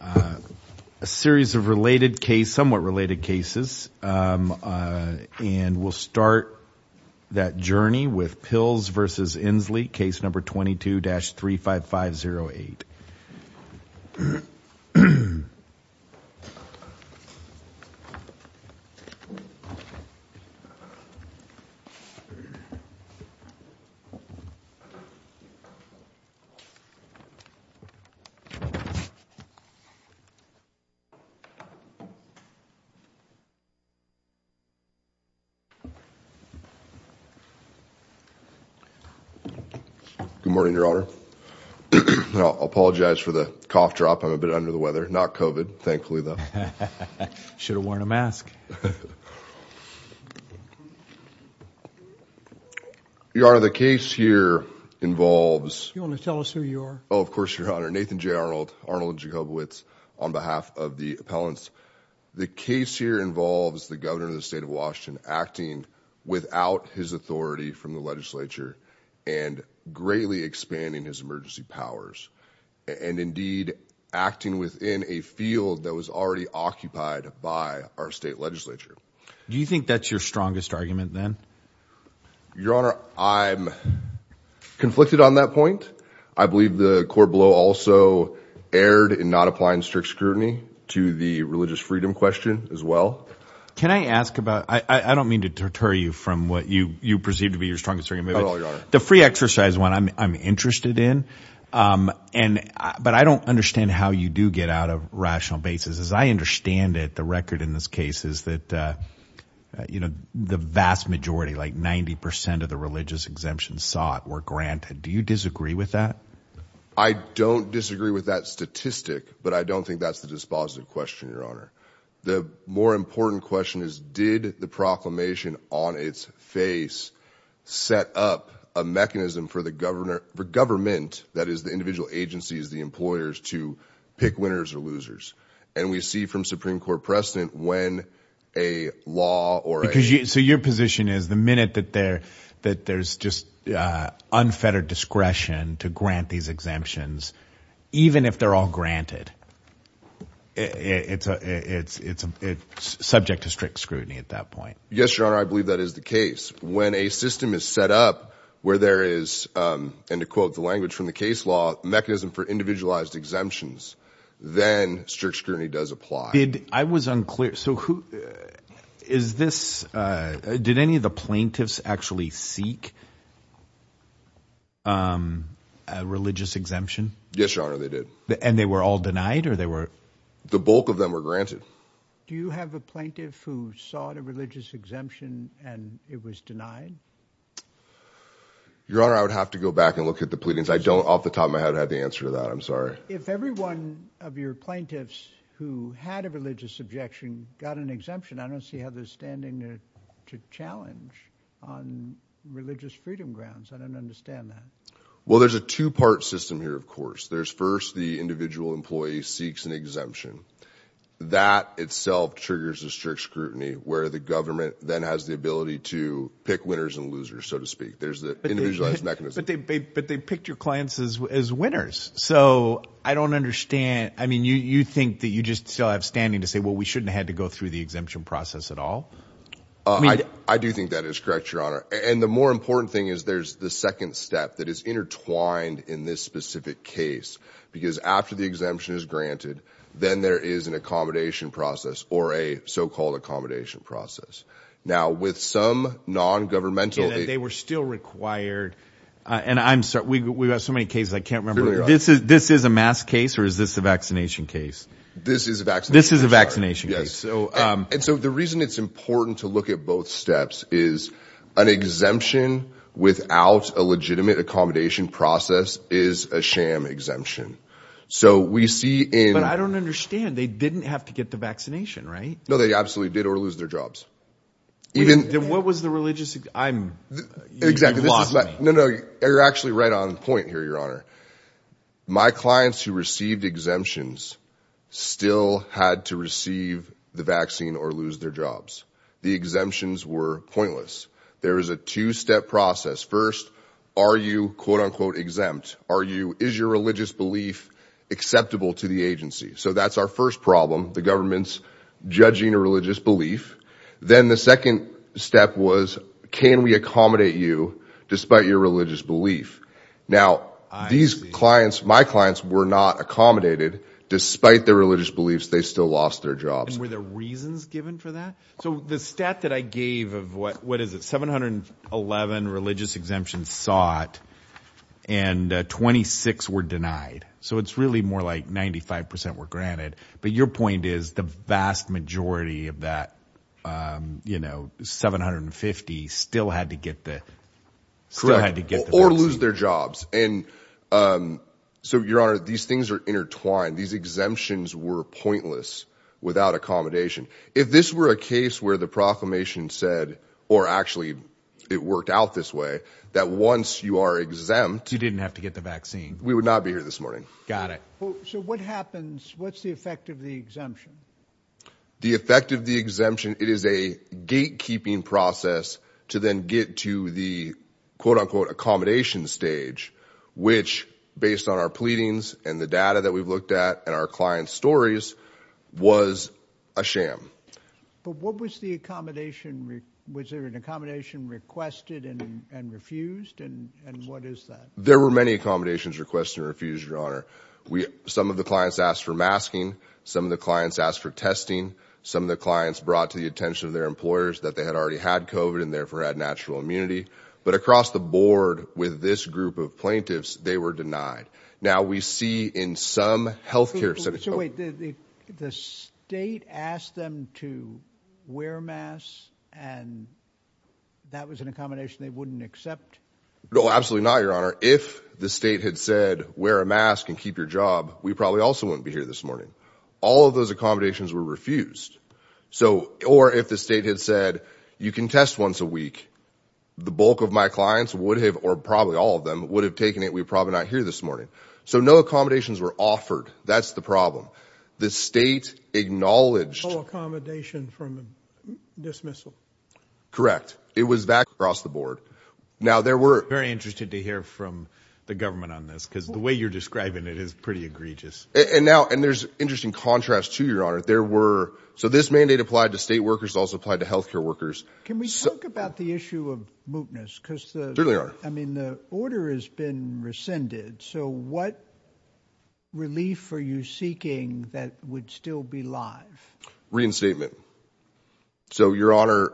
a series of related case somewhat related cases and we'll start that journey with Pilz v. Inslee case number 22-35508 Good morning Your Honor. I apologize for the cough drop. I'm a bit under the weather. Not COVID, thankfully though. Should have worn a mask. Your Honor, the case here involves... You want to tell us who you are? Of course, Your Honor. Nathan J. Arnold and Jacobowitz on behalf of the appellants. The case here involves the governor of the state of Washington acting without his authority from the legislature and greatly expanding his emergency powers and indeed acting within a field that was already occupied by our state legislature. Do you think that's your strongest argument then? Your Honor, I'm conflicted on that point. I erred in not applying strict scrutiny to the religious freedom question as well. Can I ask about... I don't mean to deter you from what you you perceive to be your strongest argument. The free exercise one I'm interested in and but I don't understand how you do get out of rational basis. As I understand it, the record in this case is that you know the vast majority like 90% of the religious exemptions sought were granted. Do you disagree with that? I don't disagree with that statistic but I don't think that's the dispositive question, Your Honor. The more important question is did the proclamation on its face set up a mechanism for the governor... for government, that is the individual agencies, the employers, to pick winners or losers? And we see from Supreme Court precedent when a law or... So your position is the minute that there that there's just unfettered discretion to grant these exemptions even if they're all granted it's a it's it's a subject to strict scrutiny at that point? Yes, Your Honor, I believe that is the case. When a system is set up where there is and to quote the language from the case law mechanism for individualized exemptions then strict scrutiny does apply. I was unclear so who is this did any of the plaintiffs actually seek a religious exemption? Yes, Your Honor, they did. And they were all denied or they were... The bulk of them were granted. Do you have a plaintiff who sought a religious exemption and it was denied? Your Honor, I would have to go back and look at the pleadings. I don't off the top of my head have the answer to that. I'm sorry. If every one of your plaintiffs who had a religious objection got an exemption I don't see how they're challenged on religious freedom grounds. I don't understand that. Well, there's a two-part system here of course. There's first the individual employee seeks an exemption. That itself triggers a strict scrutiny where the government then has the ability to pick winners and losers so to speak. There's the individualized mechanism. But they picked your clients as winners so I don't understand. I mean you you think that you just still have standing to say well we shouldn't had to go through the exemption process at all? I do think that is correct, Your Honor. And the more important thing is there's the second step that is intertwined in this specific case because after the exemption is granted then there is an accommodation process or a so-called accommodation process. Now with some non-governmental... They were still required and I'm sorry we have so many cases I can't remember. This is a mask case or is this a vaccination case? This is a vaccination case. So the reason it's important to look at both steps is an exemption without a legitimate accommodation process is a sham exemption. So we see in... But I don't understand they didn't have to get the vaccination, right? No, they absolutely did or lose their jobs. Even... Then what was the religious... I'm... Exactly. No, no you're actually right on point here, Your Honor. My clients who received exemptions still had to receive the vaccine or lose their jobs. The exemptions were pointless. There is a two-step process. First, are you quote-unquote exempt? Are you... Is your religious belief acceptable to the agency? So that's our first problem, the government's judging a religious belief. Then the second step was can we Now these clients, my clients, were not accommodated despite their religious beliefs. They still lost their jobs. Were there reasons given for that? So the stat that I gave of what... What is it? 711 religious exemptions sought and 26 were denied. So it's really more like 95% were granted. But your point is the vast majority of that, you know, 750 still had to get the... Correct. Or lose their jobs. And so, Your Honor, these things are intertwined. These exemptions were pointless without accommodation. If this were a case where the proclamation said or actually it worked out this way, that once you are exempt... You didn't have to get the vaccine. We would not be here this morning. Got it. So what happens... What's the effect of the exemption? The effect of the exemption, it is a gatekeeping process to then get to the quote-unquote accommodation stage, which, based on our pleadings and the data that we've looked at and our client's stories, was a sham. But what was the accommodation... Was there an accommodation requested and refused? And what is that? There were many accommodations requested and refused, Your Some of the clients asked for testing. Some of the clients brought to the attention of their employers that they had already had COVID and therefore had natural immunity. But across the board with this group of plaintiffs, they were denied. Now, we see in some health care... So wait, the state asked them to wear a mask and that was an accommodation they wouldn't accept? No, absolutely not, Your Honor. If the state had said, wear a mask and keep your job, we probably also wouldn't be here this morning. All of those accommodations were refused. So, or if the state had said, you can test once a week, the bulk of my clients would have, or probably all of them, would have taken it, we're probably not here this morning. So no accommodations were offered. That's the problem. The state acknowledged... No accommodation from dismissal? Correct. It was back across the board. Now, there were... Very interested to hear from the government on this, because the way you're now... And there's interesting contrast to, Your Honor. There were... So this mandate applied to state workers, also applied to health care workers. Can we talk about the issue of mootness? Because, I mean, the order has been rescinded. So what relief are you seeking that would still be live? Reinstatement. So, Your Honor,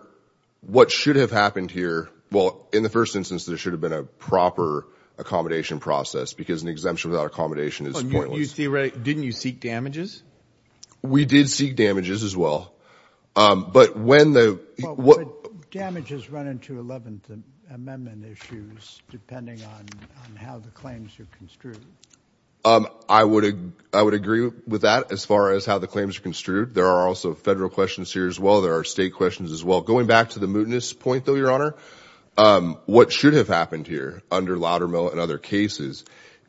what should have happened here? Well, in the first instance, there should have been a proper accommodation process, because an exemption without accommodation is not an exemption. So we did seek damages as well. But when the... Damages run into 11th Amendment issues, depending on how the claims are construed. I would agree with that, as far as how the claims are construed. There are also federal questions here as well. There are state questions as well. Going back to the mootness point, though, Your Honor, what should have happened here, under Loudermill and other cases,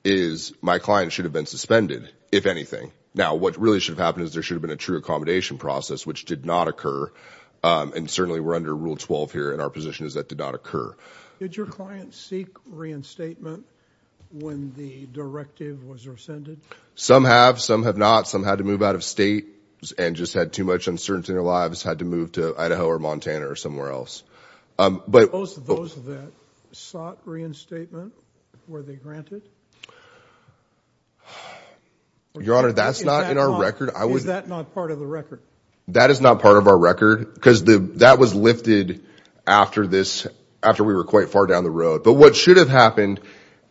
is my client should have been suspended, if anything. Now, what really should have happened is there should have been a true accommodation process, which did not occur. And certainly, we're under Rule 12 here, and our position is that did not occur. Did your client seek reinstatement when the directive was rescinded? Some have, some have not. Some had to move out of state and just had too much uncertainty in their lives, had to move to Idaho or were they granted? Your Honor, that's not in our record. Is that not part of the record? That is not part of our record, because that was lifted after this, after we were quite far down the road. But what should have happened,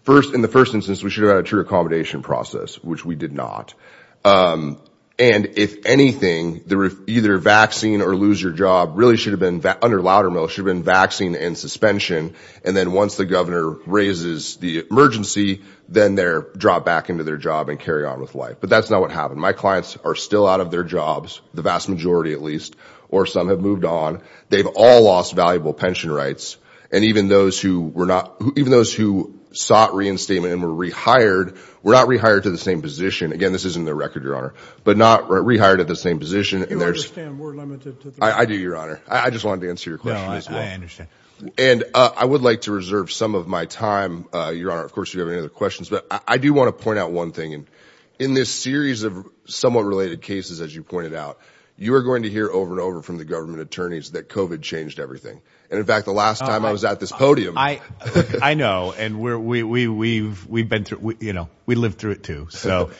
first, in the first instance, we should have had a true accommodation process, which we did not. And if anything, either vaccine or lose your job really should have been, under Loudermill, should have been vaccine and emergency, then they're dropped back into their job and carry on with life. But that's not what happened. My clients are still out of their jobs, the vast majority at least, or some have moved on. They've all lost valuable pension rights. And even those who were not, even those who sought reinstatement and were rehired, were not rehired to the same position. Again, this is in their record, Your Honor, but not rehired at the same position. I do, Your Honor. I just wanted to answer your question. I understand. And I would like to reserve some of my time, Your Honor, of course, if you have any other questions, but I do want to point out one thing. And in this series of somewhat related cases, as you pointed out, you are going to hear over and over from the government attorneys that COVID changed everything. And in fact, the last time I was at this podium, I, I know, and we're, we, we, we've, we've been through, you know, we lived through it, too. So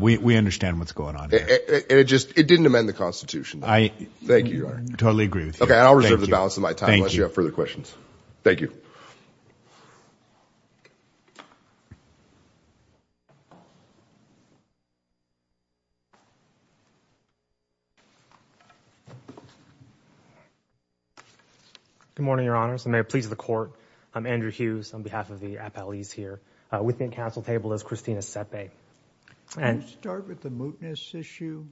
we understand what's going on. And it just, it didn't amend the Constitution. I, thank you, Your Honor. I totally agree with you. Okay, I'll reserve the balance of my time unless you have further questions. Thank you. Good morning, Your Honors. May it please the Court. I'm Andrew Hughes on behalf of the appellees here. With me at council table is Christina Sepe. Can you start with the mootness issue?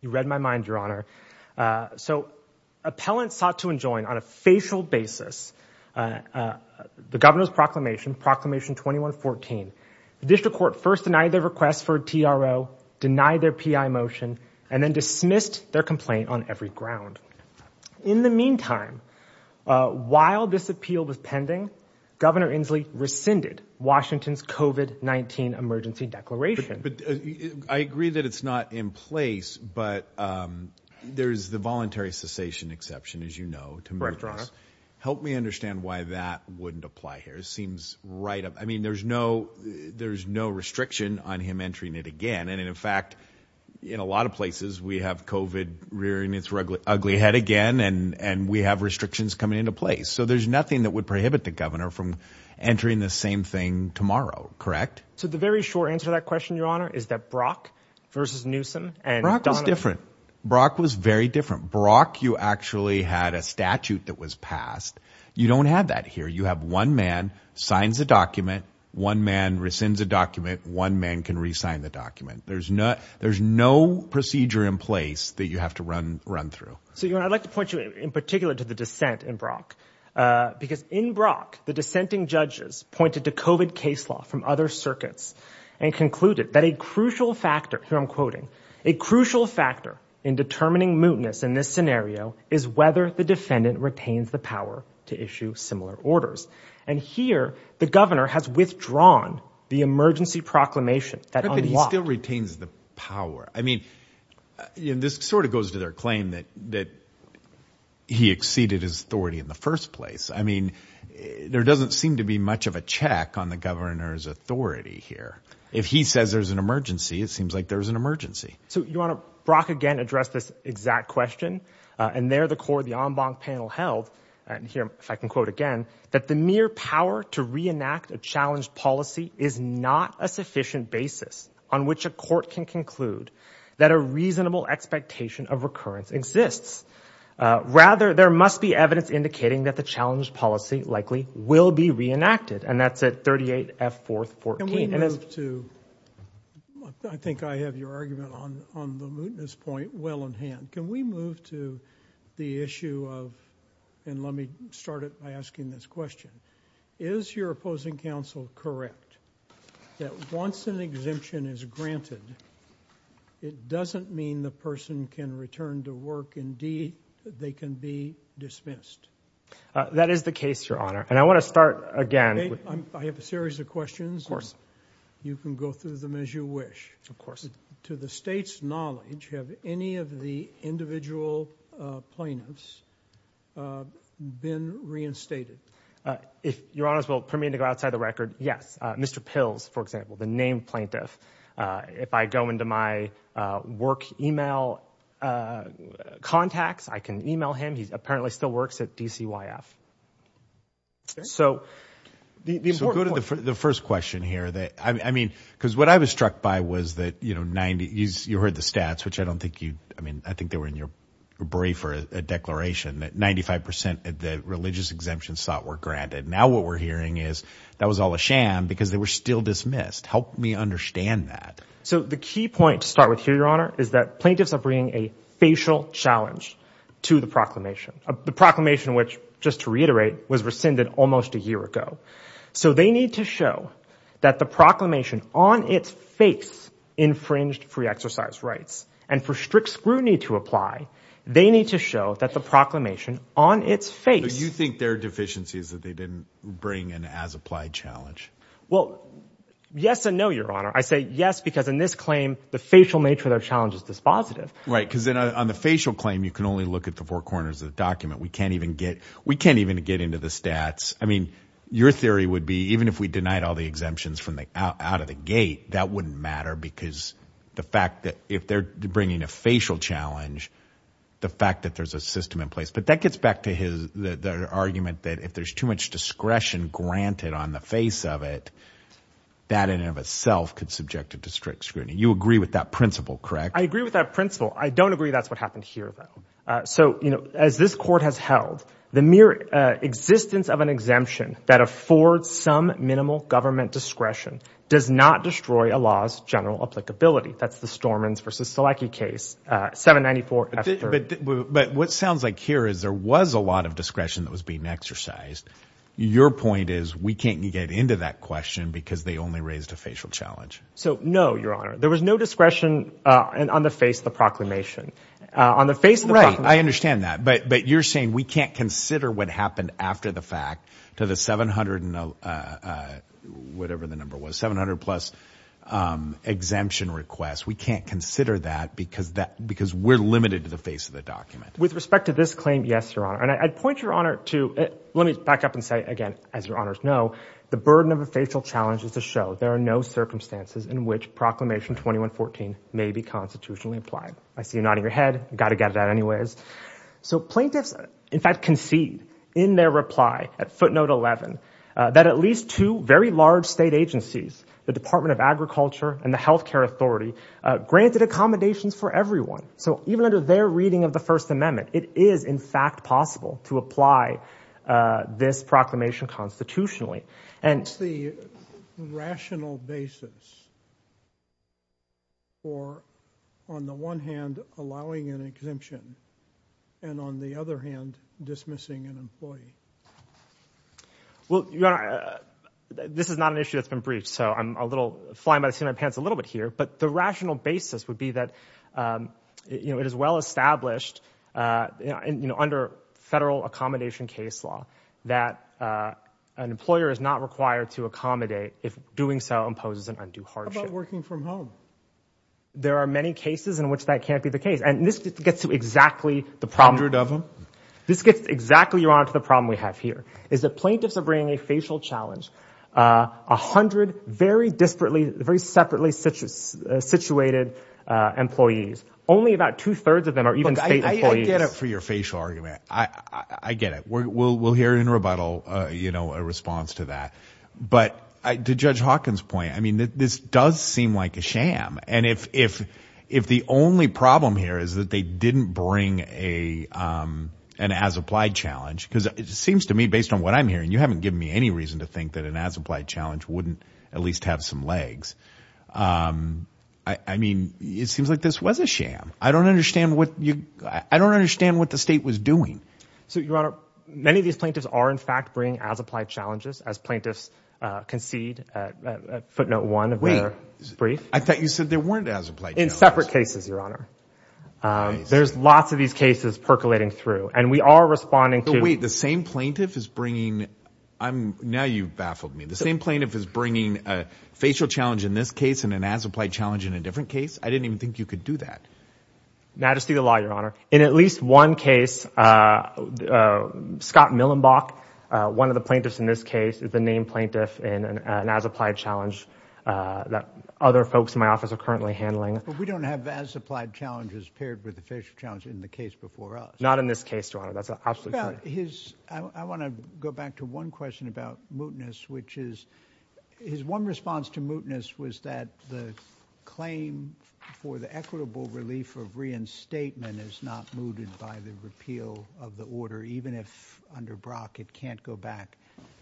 You read my mind, Your Honor. So appellants sought to enjoin on a facial basis, the governor's proclamation, Proclamation 2114. The district court first denied their request for a TRO, denied their PI motion, and then dismissed their complaint on every ground. In the meantime, while this appeal was pending, Governor Inslee rescinded Washington's COVID-19 emergency declaration. I agree that it's not in place, but there's the voluntary cessation exception, as you know, to mootness. Correct, Your Honor. Help me understand why that wouldn't apply here. It seems right up. I mean, there's no, there's no restriction on him entering it again. And in fact, in a lot of places, we have COVID rearing its ugly head again, and we have restrictions coming into place. So there's nothing that would prohibit the governor from entering the same thing tomorrow. Correct? So the very short answer to that question, Your Honor, is that Brock versus Newsom and Brock was different. Brock was very different. Brock, you actually had a statute that was passed. You don't have that here. You have one man signs a document. One man rescinds a document. One man can resign the document. There's no there's no procedure in place that you have to run run through. So, Your Honor, I'd like to point you in particular to the dissent in Brock, because in Brock, the dissenting judges pointed to COVID case law from other circuits and concluded that a crucial factor, here I'm quoting, a crucial factor in determining mootness in this scenario is whether the defendant retains the power to issue similar orders. And here, the governor has withdrawn the emergency proclamation. But he still retains the power. I mean, this sort of goes to their claim that that he exceeded his authority in the first place. I mean, there doesn't seem to be much of a check on the governor's authority here. If he says there's an emergency, it seems like there's an emergency. So, Your Honor, Brock, again, addressed this exact question. And there, the court, the en banc panel held, and here, if I can quote again, that the mere power to reenact a challenged policy is not a sufficient basis on which a court can conclude that a reasonable expectation of recurrence exists. Rather, there must be evidence indicating that the challenged policy likely will be reenacted. And that's at 38F414. Can we move to, I think I have your argument on the mootness point well in hand. Can we move to the issue of, and let me start it by asking this question. Is your opposing counsel correct that once an exemption is granted, it doesn't mean the person can return to work, indeed, they can be dismissed? That is the case, Your Honor. And I want to start again. I have a series of questions. You can go through them as you wish. To the state's knowledge, have any of the individual plaintiffs been reinstated? If Your Honor's will permit me to go outside the record, yes. Mr. Pills, for example, the named plaintiff. If I go into my work email contacts, I can email him. He apparently still works at DCYF. So the first question here that I mean, because what I was struck by was that, you know, 90 years, you heard the stats, which I don't think you I mean, I think they were in your brief or a declaration that 95% of the religious exemption sought were granted. Now what we're hearing is that was all a sham because they were still dismissed. Help me understand that. So the key point to start with here, Your Honor, is that plaintiffs are bringing a facial challenge to the proclamation of the proclamation, which, just to reiterate, was rescinded almost a year ago. So they need to show that the proclamation on its face infringed free exercise rights and for strict scrutiny to apply. They need to show that the proclamation on its face. You think there are deficiencies that they didn't bring in as applied challenge? Well, yes and no, Your Honor. I say yes, because in this claim, the facial nature of their challenge is dispositive, right? Because on the facial claim, you can only look at the four corners of the document. We can't even get we can't even get into the stats. I mean, your theory would be even if we denied all the exemptions from the out of the gate, that wouldn't matter because the fact that if they're bringing a facial challenge, the fact that there's a system in place. But that gets back to his argument that if there's too much discretion granted on the face of it, that in and of itself could subject it to strict scrutiny. You agree with that principle, correct? I agree with that principle. I don't agree. That's what happened here, though. So, you know, as this court has held, the mere existence of an exemption that affords some minimal government discretion does not destroy a law's general applicability. That's the Stormins v. of discretion that was being exercised. Your point is we can't get into that question because they only raised a facial challenge. So, no, your honor, there was no discretion on the face of the proclamation on the face. Right. I understand that. But but you're saying we can't consider what happened after the fact to the seven hundred and whatever the number was, 700 plus exemption requests. We can't consider that because that because we're limited to the face of the document. With respect to this claim, yes, your honor, and I'd point your honor to let me back up and say again, as your honors know, the burden of a facial challenge is to show there are no circumstances in which Proclamation 2114 may be constitutionally implied. I see you nodding your head. Got to get it out anyways. So plaintiffs, in fact, concede in their reply at footnote 11 that at least two very large state agencies, the Department of Agriculture and the Health Care Authority granted accommodations for everyone. So even under their reading of the First Amendment, it is, in fact, possible to apply this proclamation constitutionally. And it's the rational basis. Or on the one hand, allowing an exemption and on the other hand, dismissing an employee. Well, this is not an issue that's been briefed, so I'm a little flying by the seat of my pants a little bit here, but the rational basis would be that it is well established under federal accommodation case law that an employer is not required to accommodate if doing so imposes an undue hardship. How about working from home? There are many cases in which that can't be the case, and this gets to exactly the problem. A hundred of them? This gets exactly, your honor, to the problem we have here, is that plaintiffs are bringing a facial challenge. A hundred very disparately, very separately situated employees. Only about two thirds of them are even state employees. I get it for your facial argument. I get it. We'll hear in rebuttal a response to that. But to Judge Hawkins' point, I mean, this does seem like a sham. And if the only problem here is that they didn't bring an as-applied challenge, because it seems to me, based on what I'm hearing, you haven't given me any reason to think that an as-applied challenge wouldn't at least have some legs. I mean, it seems like this was a sham. I don't understand what the state was doing. So, your honor, many of these plaintiffs are, in fact, bringing as-applied challenges, as plaintiffs concede at footnote one of their brief. I thought you said there weren't as-applied challenges. In separate cases, your honor. There's lots of these cases percolating through, and we are responding to... Wait, the same plaintiff is bringing... Now you've baffled me. The same plaintiff is bringing a facial challenge in this case and an as-applied challenge in a different case? I didn't even think you could do that. Now, just through the law, your honor, in at least one case, Scott Millenbach, one of the plaintiffs in this case, is the named plaintiff in an as-applied challenge that other folks in my office are currently handling. But we don't have as-applied challenges paired with the facial challenge in the case before us. Not in this case, your honor. That's absolutely correct. I want to go back to one question about mootness, which is... His one response to mootness was that the claim for the equitable relief of reinstatement is not mooted by the repeal of the order, even if, under Brock, it can't go back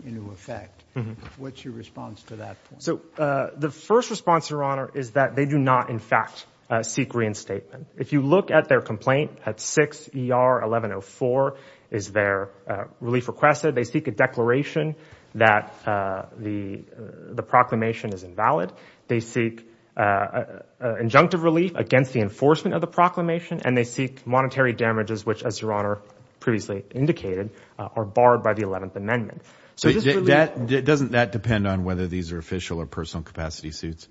into effect. What's your response to that point? So, the first response, your honor, is that they do not, in fact, seek reinstatement. If you look at their complaint at 6 ER 1104, is their relief requested, they seek a declaration that the proclamation is invalid. They seek injunctive relief against the enforcement of the proclamation, and they seek monetary damages, which, as your honor previously indicated, are barred by the 11th Amendment. So, doesn't that depend on whether these are official or personal capacity suits?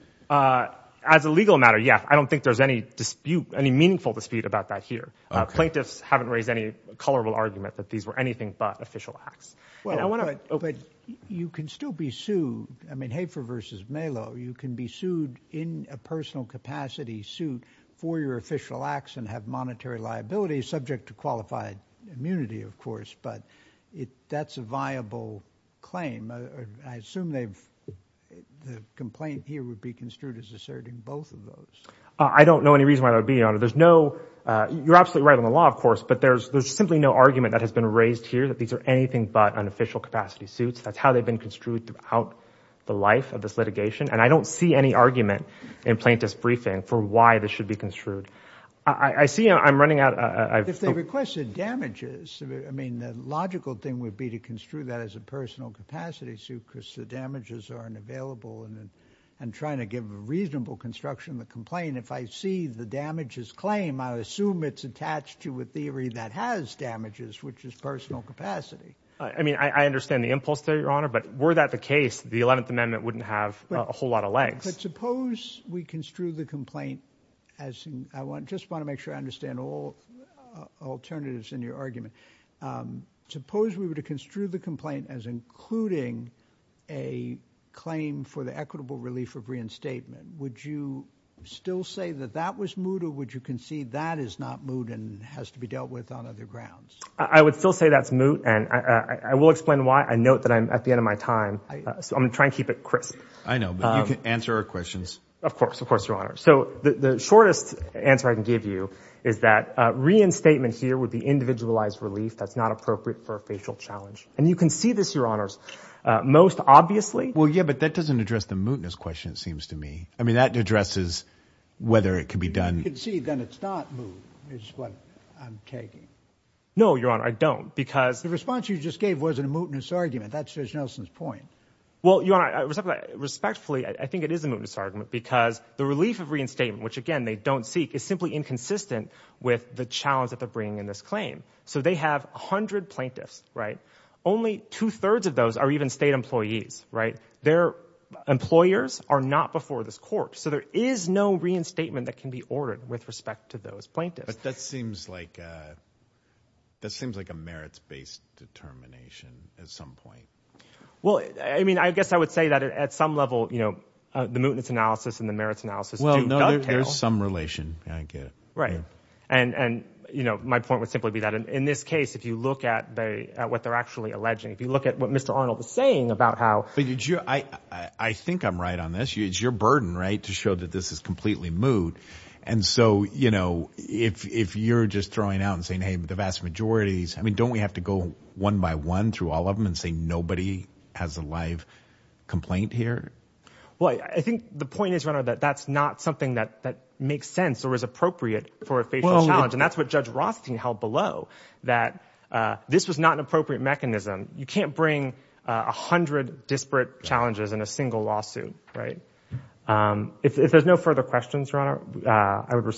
As a legal matter, yeah. I don't think there's any dispute, any meaningful dispute about that here. Plaintiffs haven't raised any colorable argument that these were anything but official acts. Well, but you can still be sued. I mean, Hafer versus Melo, you can be sued in a personal capacity suit for your official acts and have monetary liability, subject to qualified immunity, of course, but that's a viable claim. I assume the complaint here would be construed as asserting both of those. I don't know any reason why that would be, your honor. There's no, you're absolutely right on the law, of course, but there's simply no argument that has been raised here that these are anything but unofficial capacity suits. That's how they've been construed throughout the life of this litigation, and I don't see any argument in plaintiff's briefing for why this should be construed. I see I'm running out of... If they requested damages, I mean, the logical thing would be to construe that as a personal capacity suit because the damages aren't available, and I'm trying to give a reasonable construction of the complaint. If I see the damages claim, I assume it's attached to a theory that has damages, which is personal capacity. I mean, I understand the impulse there, your honor, but were that the case, the 11th Amendment wouldn't have a whole lot of legs. But suppose we construe the complaint as... I just want to make sure I understand all alternatives in your argument. Suppose we were to construe the complaint as including a claim for the equitable relief of reinstatement, would you still say that that was moot, or would you concede that is not moot and has to be dealt with on other grounds? I would still say that's moot, and I will explain why. I note that I'm at the end of my time, so I'm going to try and keep it crisp. I know, but you can answer our questions. Of course, of course, your honor. So the shortest answer I can give you is that reinstatement here would be individualized relief that's not appropriate for a facial challenge. And you can see this, your honors, most obviously. Well, yeah, but that doesn't address the mootness question, it seems to me. I mean, that addresses whether it could be done... You concede that it's not moot is what I'm taking. No, your honor, I don't, because... The response you just gave wasn't a mootness argument. That's Judge Nelson's point. Well, your honor, respectfully, I think it is a mootness argument because the relief of reinstatement, which, again, they don't seek, is simply inconsistent with the challenge that they're bringing in this claim. So they have 100 plaintiffs, right? Only two-thirds of those are even state employees, right? Their employers are not before this court. So there is no reinstatement that can be ordered with respect to those plaintiffs. But that seems like a merits-based determination at some point. Well, I mean, I guess I would say that at some level, you know, the mootness analysis and the merits analysis do dovetail. There's some relation. I get it. Right. And, you know, my point would simply be that in this case, if you look at what they're actually alleging, if you look at what Mr. Arnold was saying about how... But I think I'm right on this. It's your burden, right, to show that this is completely moot. And so, you know, if you're just throwing out and saying, hey, the vast majority... I mean, don't we have to go one by one through all of them Well, I think the point is, your honor, that that's not something that makes sense or is appropriate for a facial challenge. And that's what Judge Rothstein held below, that this was not an appropriate mechanism. You can't bring 100 disparate challenges in a single lawsuit, right? If there's no further questions, your honor, I would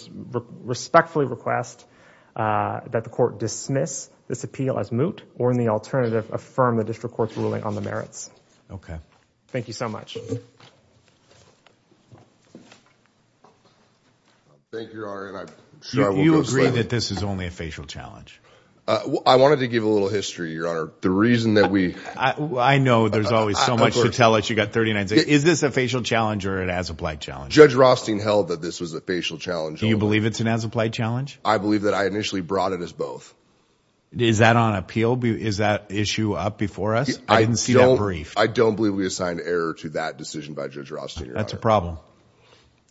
respectfully request that the court dismiss this appeal as moot or in the alternative, affirm the district court's ruling on the merits. OK. Thank you so much. Thank you, your honor, and I'm sure I won't go slowly. Do you agree that this is only a facial challenge? I wanted to give a little history, your honor. The reason that we... I know there's always so much to tell us. You've got 39 days. Is this a facial challenge or an as-applied challenge? Judge Rothstein held that this was a facial challenge. Do you believe it's an as-applied challenge? I believe that I initially brought it as both. Is that on appeal? Is that issue up before us? I didn't see that brief. I don't believe we assigned error to that decision by Judge Rothstein. That's a problem.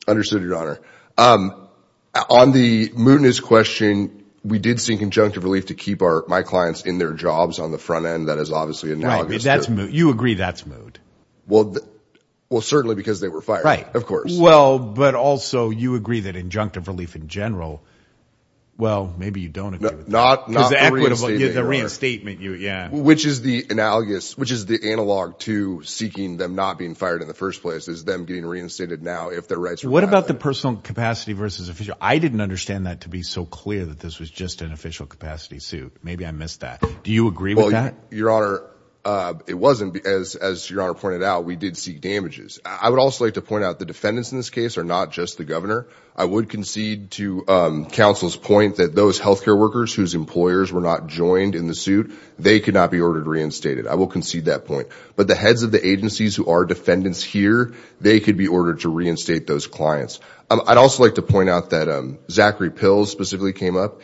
Understood, your honor. On the mootness question, we did seek injunctive relief to keep my clients in their jobs on the front end. That is obviously analogous. You agree that's moot? Well, certainly because they were fired, of course. Well, but also you agree that injunctive relief in general... Well, maybe you don't agree with that. Not the reinstatement, your honor. Which is the analogous... Which is the analogue to seeking them not being fired in the first place is them getting reinstated now if their rights are... What about the personal capacity versus official? I didn't understand that to be so clear that this was just an official capacity suit. Maybe I missed that. Do you agree with that? Your honor, it wasn't. As your honor pointed out, we did seek damages. I would also like to point out the defendants in this case are not just the governor. I would concede to counsel's point that those healthcare workers whose employers were not joined in the suit, they could not be ordered reinstated. I will concede that point. But the heads of the agencies who are defendants here, they could be ordered to reinstate those clients. I'd also like to point out that Zachary Pills specifically came up.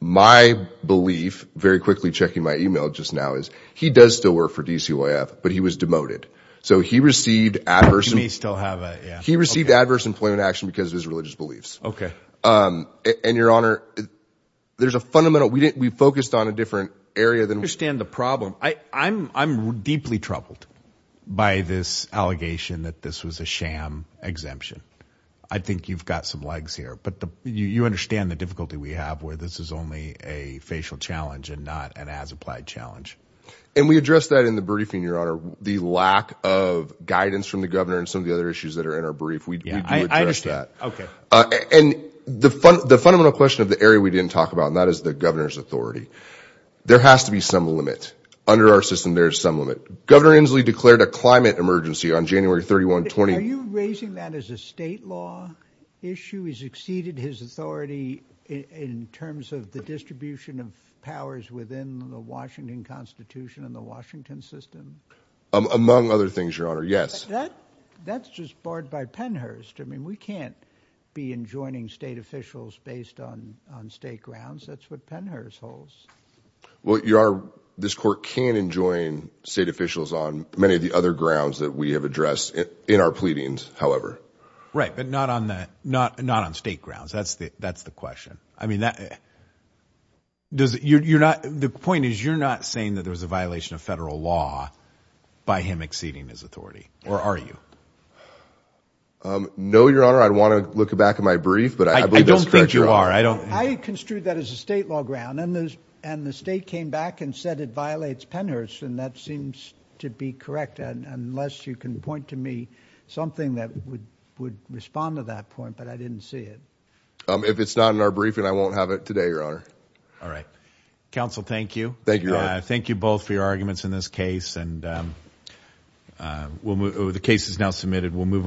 My belief, very quickly checking my email just now, is he does still work for DCYF, but he was demoted. So he received adverse... He may still have... He received adverse employment action because of his religious beliefs. Okay. And your honor, there's a fundamental... We focused on a different area than... I understand the problem. I'm deeply troubled by this allegation that this was a sham exemption. I think you've got some legs here, but you understand the difficulty we have where this is only a facial challenge and not an as-applied challenge. And we addressed that in the briefing, your honor. The lack of guidance from the governor and some of the other issues that are in our brief, we do address that. Okay. And the fundamental question of the area we didn't talk about, and that is the governor's authority. There has to be some limit. Under our system, there's some limit. Governor Inslee declared a climate emergency on January 31, 2020. Are you raising that as a state law issue? He's exceeded his authority in terms of the distribution of powers within the Washington Constitution and the Washington system? Among other things, your honor. Yes. That's just barred by Pennhurst. I mean, we can't be enjoining state officials based on state grounds. That's what Pennhurst holds. Well, your honor, this court can enjoin state officials on many of the other grounds that we have addressed in our pleadings, however. Right, but not on state grounds. That's the question. I mean, the point is you're not saying that there's a violation of federal law by him exceeding his authority, or are you? No, your honor. I'd want to look back at my brief, but I believe that's correct, your honor. I construed that as a state law ground, and the state came back and said it violates Pennhurst, and that seems to be correct, unless you can point to me something that would respond to that point, but I didn't see it. If it's not in our briefing, I won't have it today, your honor. All right. Counsel, thank you. Thank you, your honor. Thank you both for your arguments in this case. And the case is now submitted. We'll move on.